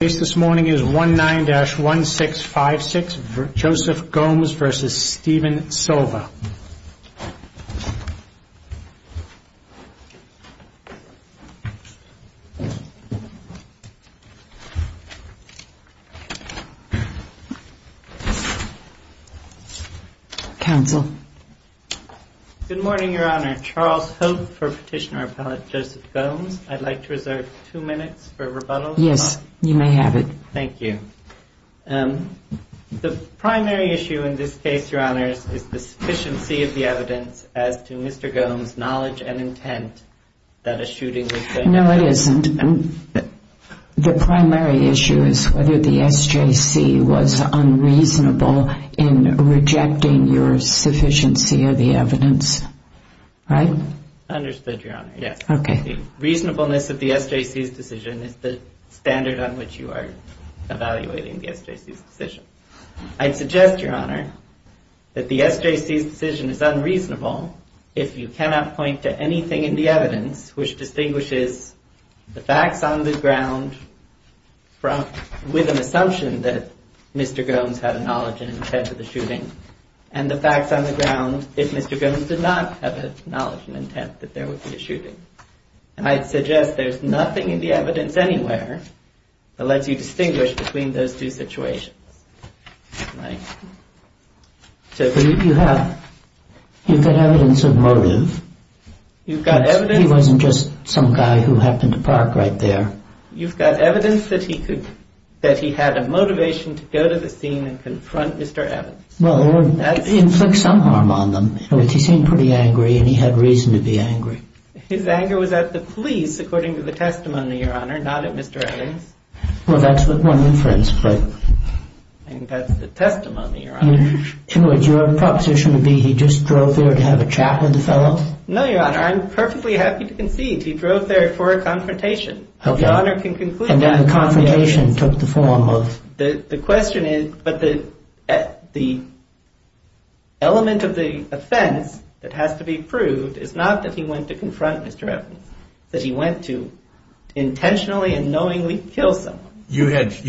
The case this morning is 19-1656, Joseph Gomes v. Steven Silva. Counsel. Good morning, Your Honor. Charles Hope for Petitioner Appellate Joseph Gomes. I'd like to reserve two minutes for rebuttal. Yes, you may have it. Thank you. The primary issue in this case, Your Honors, is the sufficiency of the evidence as to Mr. Gomes' knowledge and intent that a shooting was done. No, it isn't. The primary issue is whether the SJC was unreasonable in rejecting your sufficiency of the evidence. Right? Understood, Your Honor. Yes. The reasonableness of the SJC's decision is the standard on which you are evaluating the SJC's decision. I'd suggest, Your Honor, that the SJC's decision is unreasonable if you cannot point to anything in the evidence which distinguishes the facts on the ground with an assumption that Mr. Gomes had a knowledge and intent of the shooting, and the facts on the ground if Mr. Gomes did not have a knowledge and intent that there would be a shooting. And I'd suggest there's nothing in the evidence anywhere that lets you distinguish between those two situations. But you have evidence of motive. You've got evidence... He wasn't just some guy who happened to park right there. You've got evidence that he had a motivation to go to the scene and confront Mr. Evans. Well, it would inflict some harm on them. In other words, he seemed pretty angry, and he had reason to be angry. His anger was at the police, according to the testimony, Your Honor, not at Mr. Evans. Well, that's what one of the friends put. And that's the testimony, Your Honor. In other words, your proposition would be he just drove there to have a chat with the fellow? No, Your Honor, I'm perfectly happy to concede. He drove there for a confrontation. Okay. Your Honor can conclude that confrontation. And then the confrontation took the form of... The question is, but the element of the offense that has to be proved is not that he went to confront Mr. Evans. It's that he went to intentionally and knowingly kill someone. What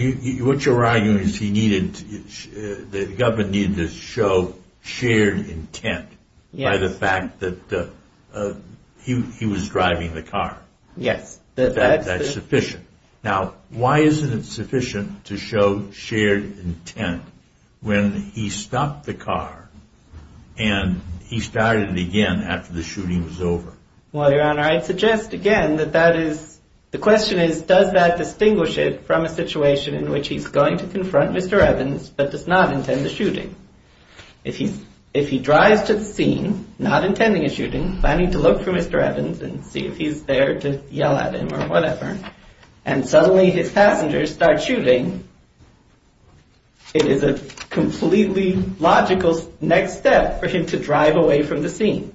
you're arguing is the government needed to show shared intent by the fact that he was driving the car. Yes. That's sufficient. Now, why isn't it sufficient to show shared intent when he stopped the car and he started again after the shooting was over? Well, Your Honor, I'd suggest again that that is... The question is, does that distinguish it from a situation in which he's going to confront Mr. Evans but does not intend the shooting? If he drives to the scene, not intending a shooting, planning to look for Mr. Evans and see if he's there to yell at him or whatever, and suddenly his passengers start shooting, it is a completely logical next step for him to drive away from the scene.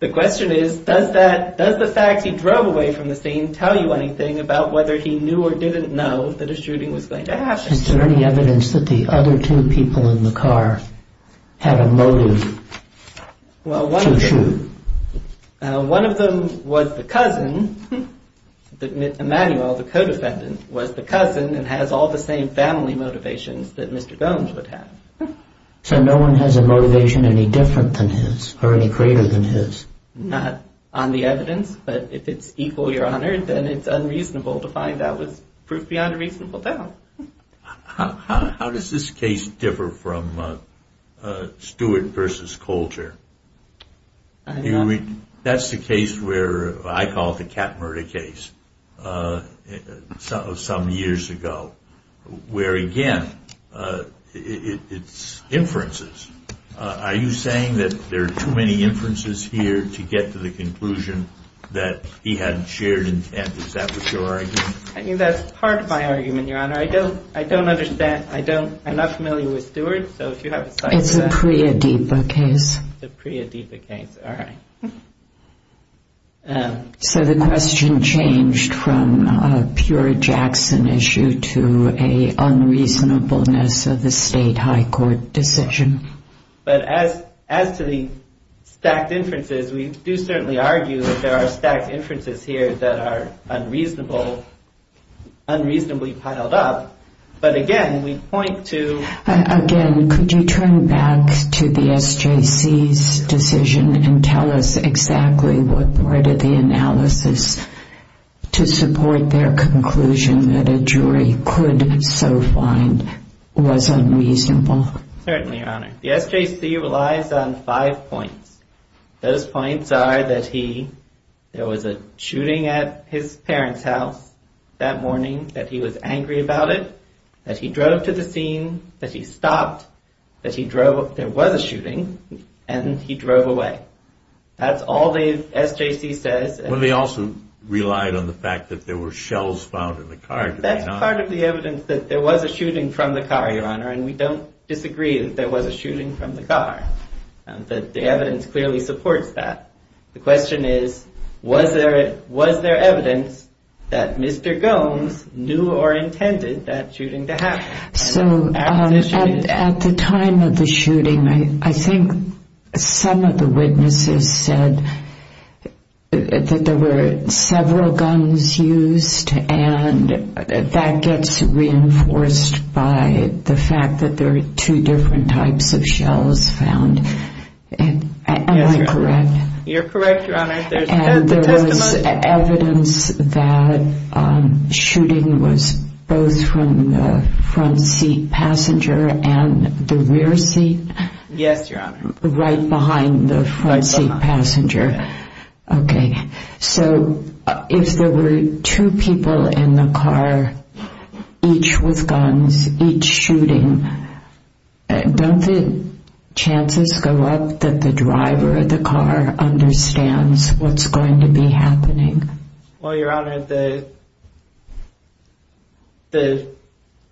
The question is, does the fact he drove away from the scene tell you anything about whether he knew or didn't know that a shooting was going to happen? Is there any evidence that the other two people in the car had a motive to shoot? One of them was the cousin, Emanuel, the co-defendant, was the cousin and has all the same family motivations that Mr. Gomes would have. So no one has a motivation any different than his or any greater than his? Not on the evidence, but if it's equal, Your Honor, then it's unreasonable to find that was proof beyond a reasonable doubt. How does this case differ from Stewart v. Colter? That's the case where I call the cat murder case of some years ago, where again, it's inferences. Are you saying that there are too many inferences here to get to the conclusion that he had shared intent? Is that what you're arguing? I think that's part of my argument, Your Honor. I don't understand. I'm not familiar with Stewart. It's a Priya Deepa case. It's a Priya Deepa case. All right. So the question changed from a pure Jackson issue to a unreasonableness of the state high court decision. But as to the stacked inferences, we do certainly argue that there are stacked inferences here that are unreasonable, unreasonably piled up. But again, we point to... Again, could you turn back to the SJC's decision and tell us exactly what part of the analysis to support their conclusion that a jury could so find was unreasonable? Certainly, Your Honor. The SJC relies on five points. Those points are that there was a shooting at his parents' house that morning, that he was angry about it, that he drove to the scene, that he stopped, that there was a shooting, and he drove away. That's all the SJC says. Well, they also relied on the fact that there were shells found in the car. That's part of the evidence that there was a shooting from the car, Your Honor. And we don't disagree that there was a shooting from the car, that the evidence clearly supports that. The question is, was there evidence that Mr. Gomes knew or intended that shooting to happen? So, at the time of the shooting, I think some of the witnesses said that there were several guns used, and that gets reinforced by the fact that there are two different types of shells found. Am I correct? You're correct, Your Honor. And there was evidence that shooting was both from the front seat passenger and the rear seat? Yes, Your Honor. Right behind the front seat passenger. Right behind. I hope that the driver of the car understands what's going to be happening. Well, Your Honor, the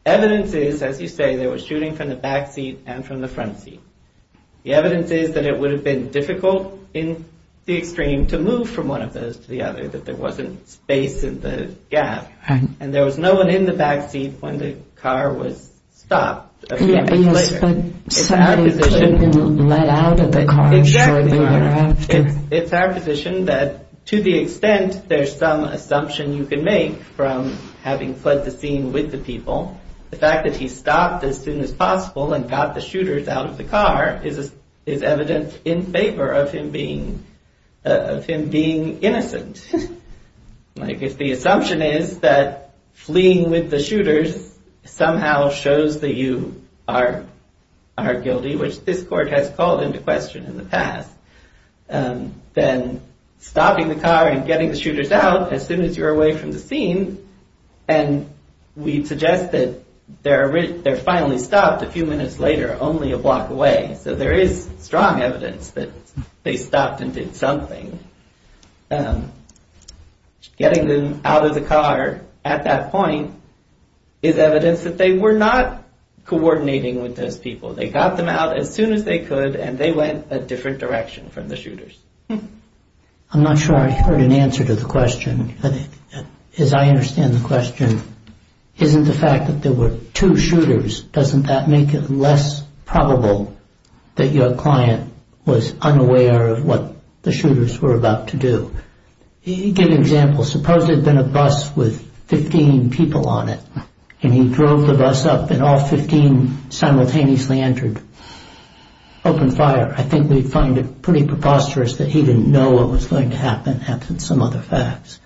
evidence is, as you say, there was shooting from the back seat and from the front seat. The evidence is that it would have been difficult in the extreme to move from one of those to the other, that there wasn't space in the gap. Right. And there was no one in the back seat when the car was stopped a few minutes later. But somebody could have been let out of the car shortly thereafter. Exactly, Your Honor. It's our position that to the extent there's some assumption you can make from having fled the scene with the people, the fact that he stopped as soon as possible and got the shooters out of the car is evident in favor of him being innocent. Like if the assumption is that fleeing with the shooters somehow shows that you are guilty, which this court has called into question in the past, then stopping the car and getting the shooters out as soon as you're away from the scene. And we suggest that they're finally stopped a few minutes later, only a block away. So there is strong evidence that they stopped and did something. Getting them out of the car at that point is evidence that they were not coordinating with those people. They got them out as soon as they could and they went a different direction from the shooters. I'm not sure I heard an answer to the question. As I understand the question, isn't the fact that there were two shooters, doesn't that make it less probable that your client was unaware of what the shooters were about to do? Give an example. Suppose there had been a bus with 15 people on it. And he drove the bus up and all 15 simultaneously entered. Open fire. I think we find it pretty preposterous that he didn't know what was going to happen, absent some other facts.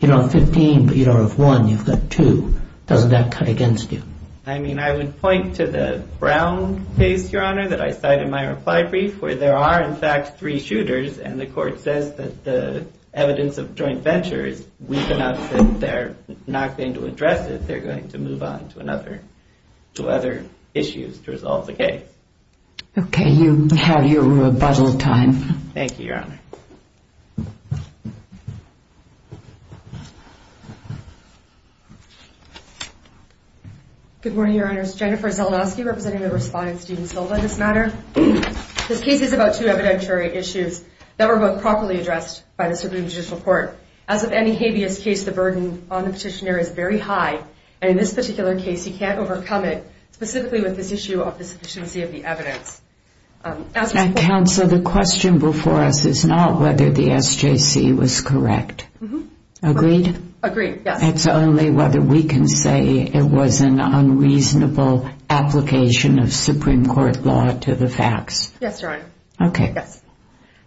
You don't have 15, but you don't have one. You've got two. Doesn't that cut against you? I mean, I would point to the Brown case, Your Honor, that I cited in my reply brief, where there are, in fact, three shooters. And the court says that the evidence of joint venture is weak enough that they're not going to address it. They're going to move on to other issues to resolve the case. Okay. You have your rebuttal time. Thank you, Your Honor. Good morning, Your Honors. Jennifer Zeldowski representing the respondent's team still on this matter. This case is about two evidentiary issues that were both properly addressed by the Supreme Judicial Court. As with any habeas case, the burden on the petitioner is very high. And in this particular case, you can't overcome it, specifically with this issue of the sufficiency of the evidence. Counsel, the question before us is not whether the SJC was correct. Agreed? Agreed, yes. It's only whether we can say it was an unreasonable application of Supreme Court law to the facts. Yes, Your Honor. Okay.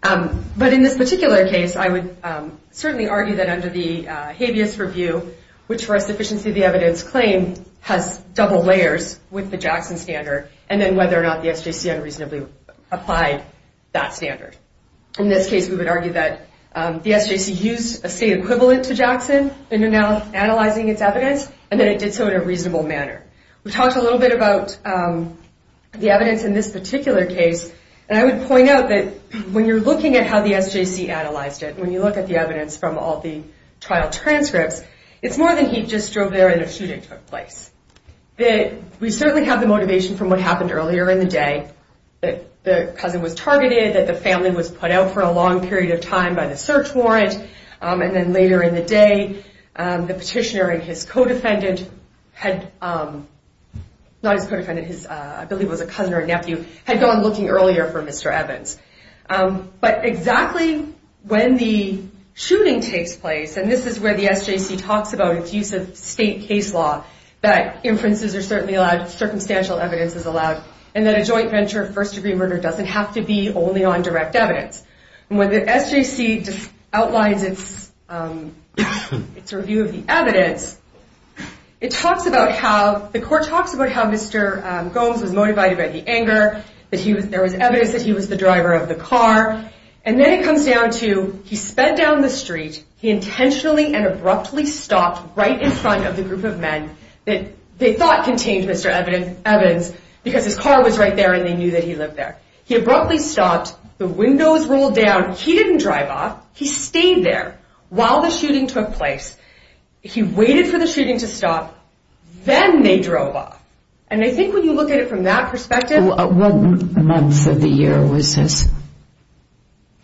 But in this particular case, I would certainly argue that under the habeas review, which for us, sufficiency of the evidence claim has double layers with the Jackson standard, and then whether or not the SJC unreasonably applied that standard. In this case, we would argue that the SJC used a state equivalent to Jackson in analyzing its evidence, and that it did so in a reasonable manner. We talked a little bit about the evidence in this particular case, and I would point out that when you're looking at how the SJC analyzed it, when you look at the evidence from all the trial transcripts, it's more than he just drove there and a shooting took place. We certainly have the motivation from what happened earlier in the day, that the cousin was targeted, that the family was put out for a long period of time by the search warrant, and then later in the day, the petitioner and his co-defendant had, not his co-defendant, I believe it was a cousin or a nephew, had gone looking earlier for Mr. Evans. But exactly when the shooting takes place, and this is where the SJC talks about its use of state case law, that inferences are certainly allowed, circumstantial evidence is allowed, and that a joint venture of first-degree murder doesn't have to be only on direct evidence. It talks about how, the court talks about how Mr. Gomes was motivated by the anger, that there was evidence that he was the driver of the car, and then it comes down to, he sped down the street, he intentionally and abruptly stopped right in front of the group of men that they thought contained Mr. Evans, because his car was right there and they knew that he lived there. He abruptly stopped, the windows rolled down, he didn't drive off, he stayed there while the shooting took place. He waited for the shooting to stop, then they drove off. And I think when you look at it from that perspective... What month of the year was this?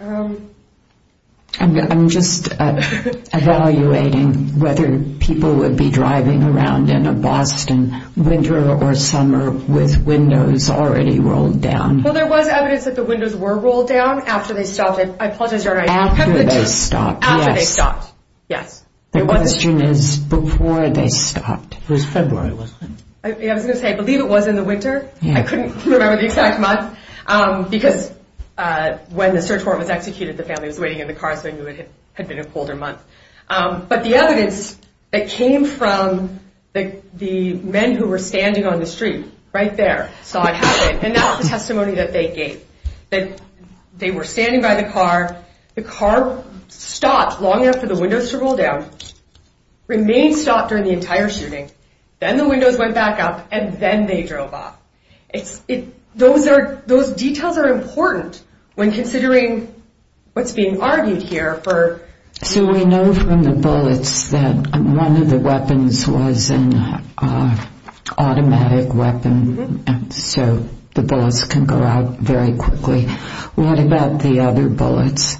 Um... I'm just evaluating whether people would be driving around in a Boston winter or summer with windows already rolled down. Well, there was evidence that the windows were rolled down after they stopped. After they stopped, yes. The question is, before they stopped. It was February, wasn't it? I was going to say, I believe it was in the winter. I couldn't remember the exact month, because when the search warrant was executed, the family was waiting in the car so they knew it had been a colder month. But the evidence that came from the men who were standing on the street, right there, saw it happen, and that's the testimony that they gave. That they were standing by the car, the car stopped long enough for the windows to roll down, remained stopped during the entire shooting, then the windows went back up, and then they drove off. Those details are important when considering what's being argued here for... So we know from the bullets that one of the weapons was an automatic weapon, so the bullets can go out very quickly. What about the other bullets?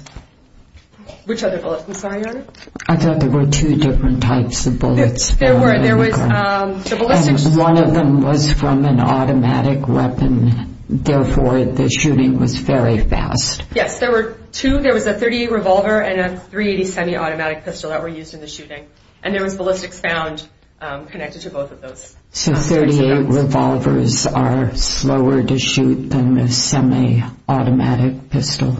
Which other bullets? I'm sorry, go ahead. I thought there were two different types of bullets. There were, there was... One of them was from an automatic weapon, therefore the shooting was very fast. Yes, there were two, there was a .38 revolver and a .380 semi-automatic pistol that were used in the shooting. And there was ballistics found connected to both of those. So .38 revolvers are slower to shoot than a semi-automatic pistol?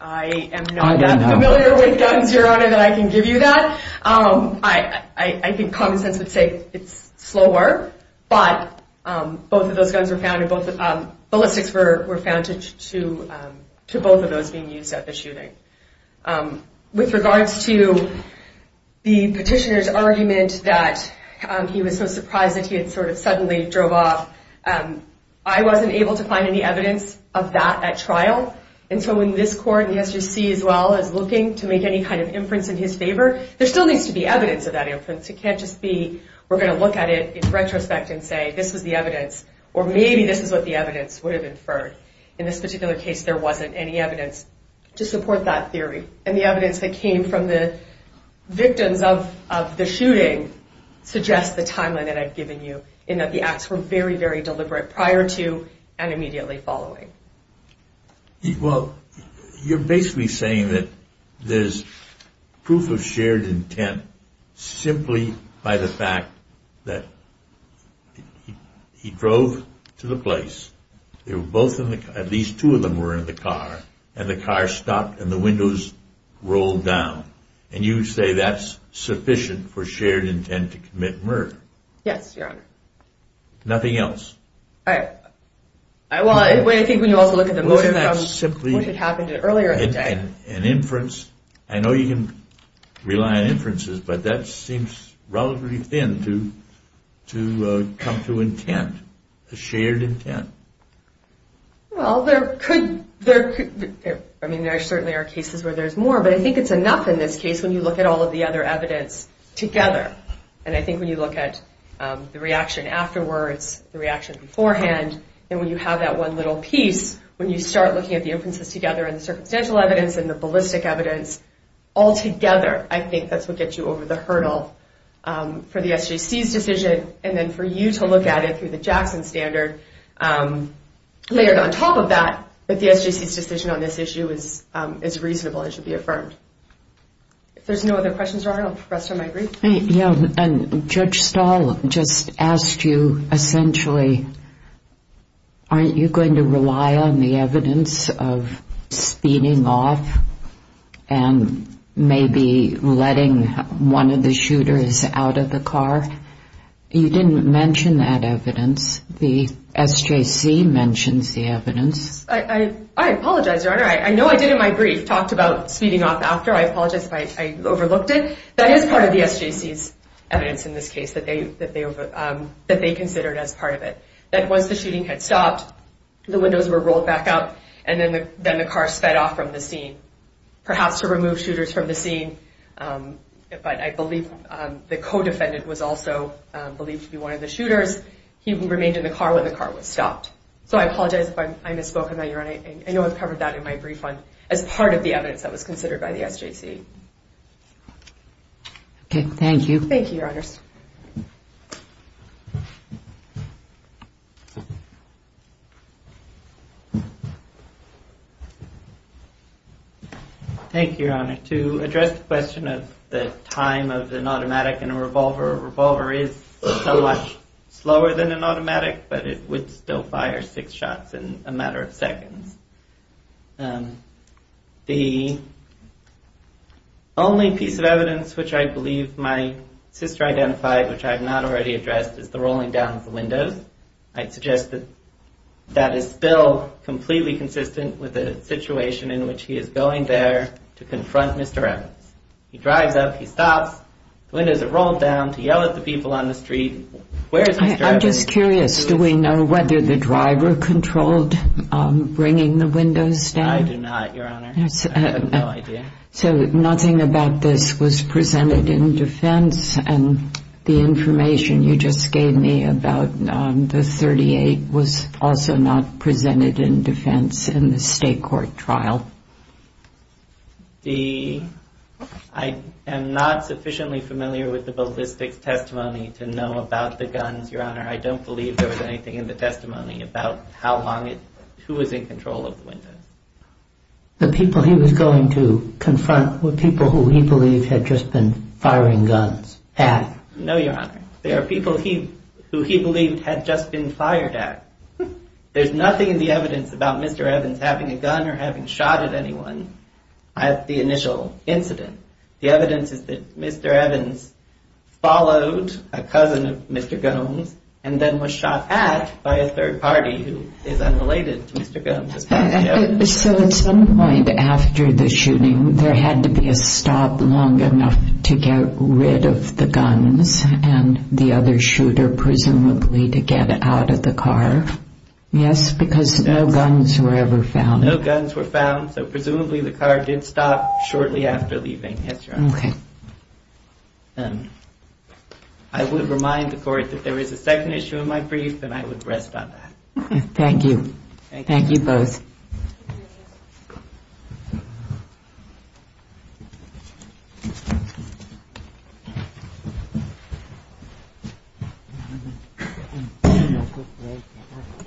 I am not that familiar with guns, Your Honor, that I can give you that. I think common sense would say it's slower, but both of those guns were found, ballistics were found to both of those being used at the shooting. With regards to the petitioner's argument that he was so surprised that he had sort of suddenly drove off, I wasn't able to find any evidence of that at trial. And so in this court, he has to see as well as looking to make any kind of inference in his favor, there still needs to be evidence of that inference. It can't just be we're going to look at it in retrospect and say this was the evidence, or maybe this is what the evidence would have inferred. In this particular case, there wasn't any evidence to support that theory. And the evidence that came from the victims of the shooting suggests the timeline that I've given you, in that the acts were very, very deliberate prior to and immediately following. Well, you're basically saying that there's proof of shared intent simply by the fact that he drove to the place, at least two of them were in the car, and the car stopped and the windows rolled down. And you say that's sufficient for shared intent to commit murder. Yes, Your Honor. Nothing else? Well, I think when you also look at the motive from what had happened earlier in the day. Wasn't that simply an inference? I know you can rely on inferences, but that seems relatively thin to come to intent, a shared intent. Well, there could be. I mean, there certainly are cases where there's more, but I think it's enough in this case when you look at all of the other evidence together. And I think when you look at the reaction afterwards, the reaction beforehand, and when you have that one little piece, when you start looking at the inferences together and the circumstantial evidence and the ballistic evidence all together, I think that's what gets you over the hurdle for the SJC's decision. And then for you to look at it through the Jackson standard, layered on top of that, that the SJC's decision on this issue is reasonable and should be affirmed. If there's no other questions, Your Honor, I'll rest on my brief. Judge Stahl just asked you essentially, aren't you going to rely on the evidence of speeding off and maybe letting one of the shooters out of the car? You didn't mention that evidence. The SJC mentions the evidence. I apologize, Your Honor. I know I did in my brief, talked about speeding off after. I apologize if I overlooked it. That is part of the SJC's evidence in this case that they considered as part of it, that once the shooting had stopped, the windows were rolled back up, and then the car sped off from the scene, perhaps to remove shooters from the scene. But I believe the co-defendant was also believed to be one of the shooters. He remained in the car when the car was stopped. So I apologize if I misspoke on that, Your Honor. I know I covered that in my brief as part of the evidence that was considered by the SJC. Okay. Thank you. Thank you, Your Honors. Thank you, Your Honor. To address the question of the time of an automatic and a revolver, a revolver is so much slower than an automatic, but it would still fire six shots in a matter of seconds. The only piece of evidence which I believe my sister identified, which I have not already addressed, is the rolling down of the windows. I'd suggest that that is still completely consistent with the situation in which he is going there to confront Mr. Evans. He drives up, he stops, the windows are rolled down, he yells at the people on the street, where is he driving? I'm just curious, do we know whether the driver controlled bringing the windows down? I do not, Your Honor. I have no idea. So nothing about this was presented in defense, and the information you just gave me about the .38 was also not presented in defense in the state court trial. I am not sufficiently familiar with the ballistics testimony to know about the guns, Your Honor. I don't believe there was anything in the testimony about who was in control of the windows. The people he was going to confront were people who he believed had just been firing guns at. No, Your Honor. They are people who he believed had just been fired at. There's nothing in the evidence about Mr. Evans having a gun or having shot at anyone at the initial incident. The evidence is that Mr. Evans followed a cousin of Mr. Gomes and then was shot at by a third party who is unrelated to Mr. Gomes. So at some point after the shooting, there had to be a stop long enough to get rid of the guns and the other shooter presumably to get out of the car? Yes, because no guns were ever found. No guns were found, so presumably the car did stop shortly after leaving. Yes, Your Honor. Okay. I would remind the court that there is a second issue in my brief, and I would rest on that. Thank you. Thank you. Thank you both. Thank you.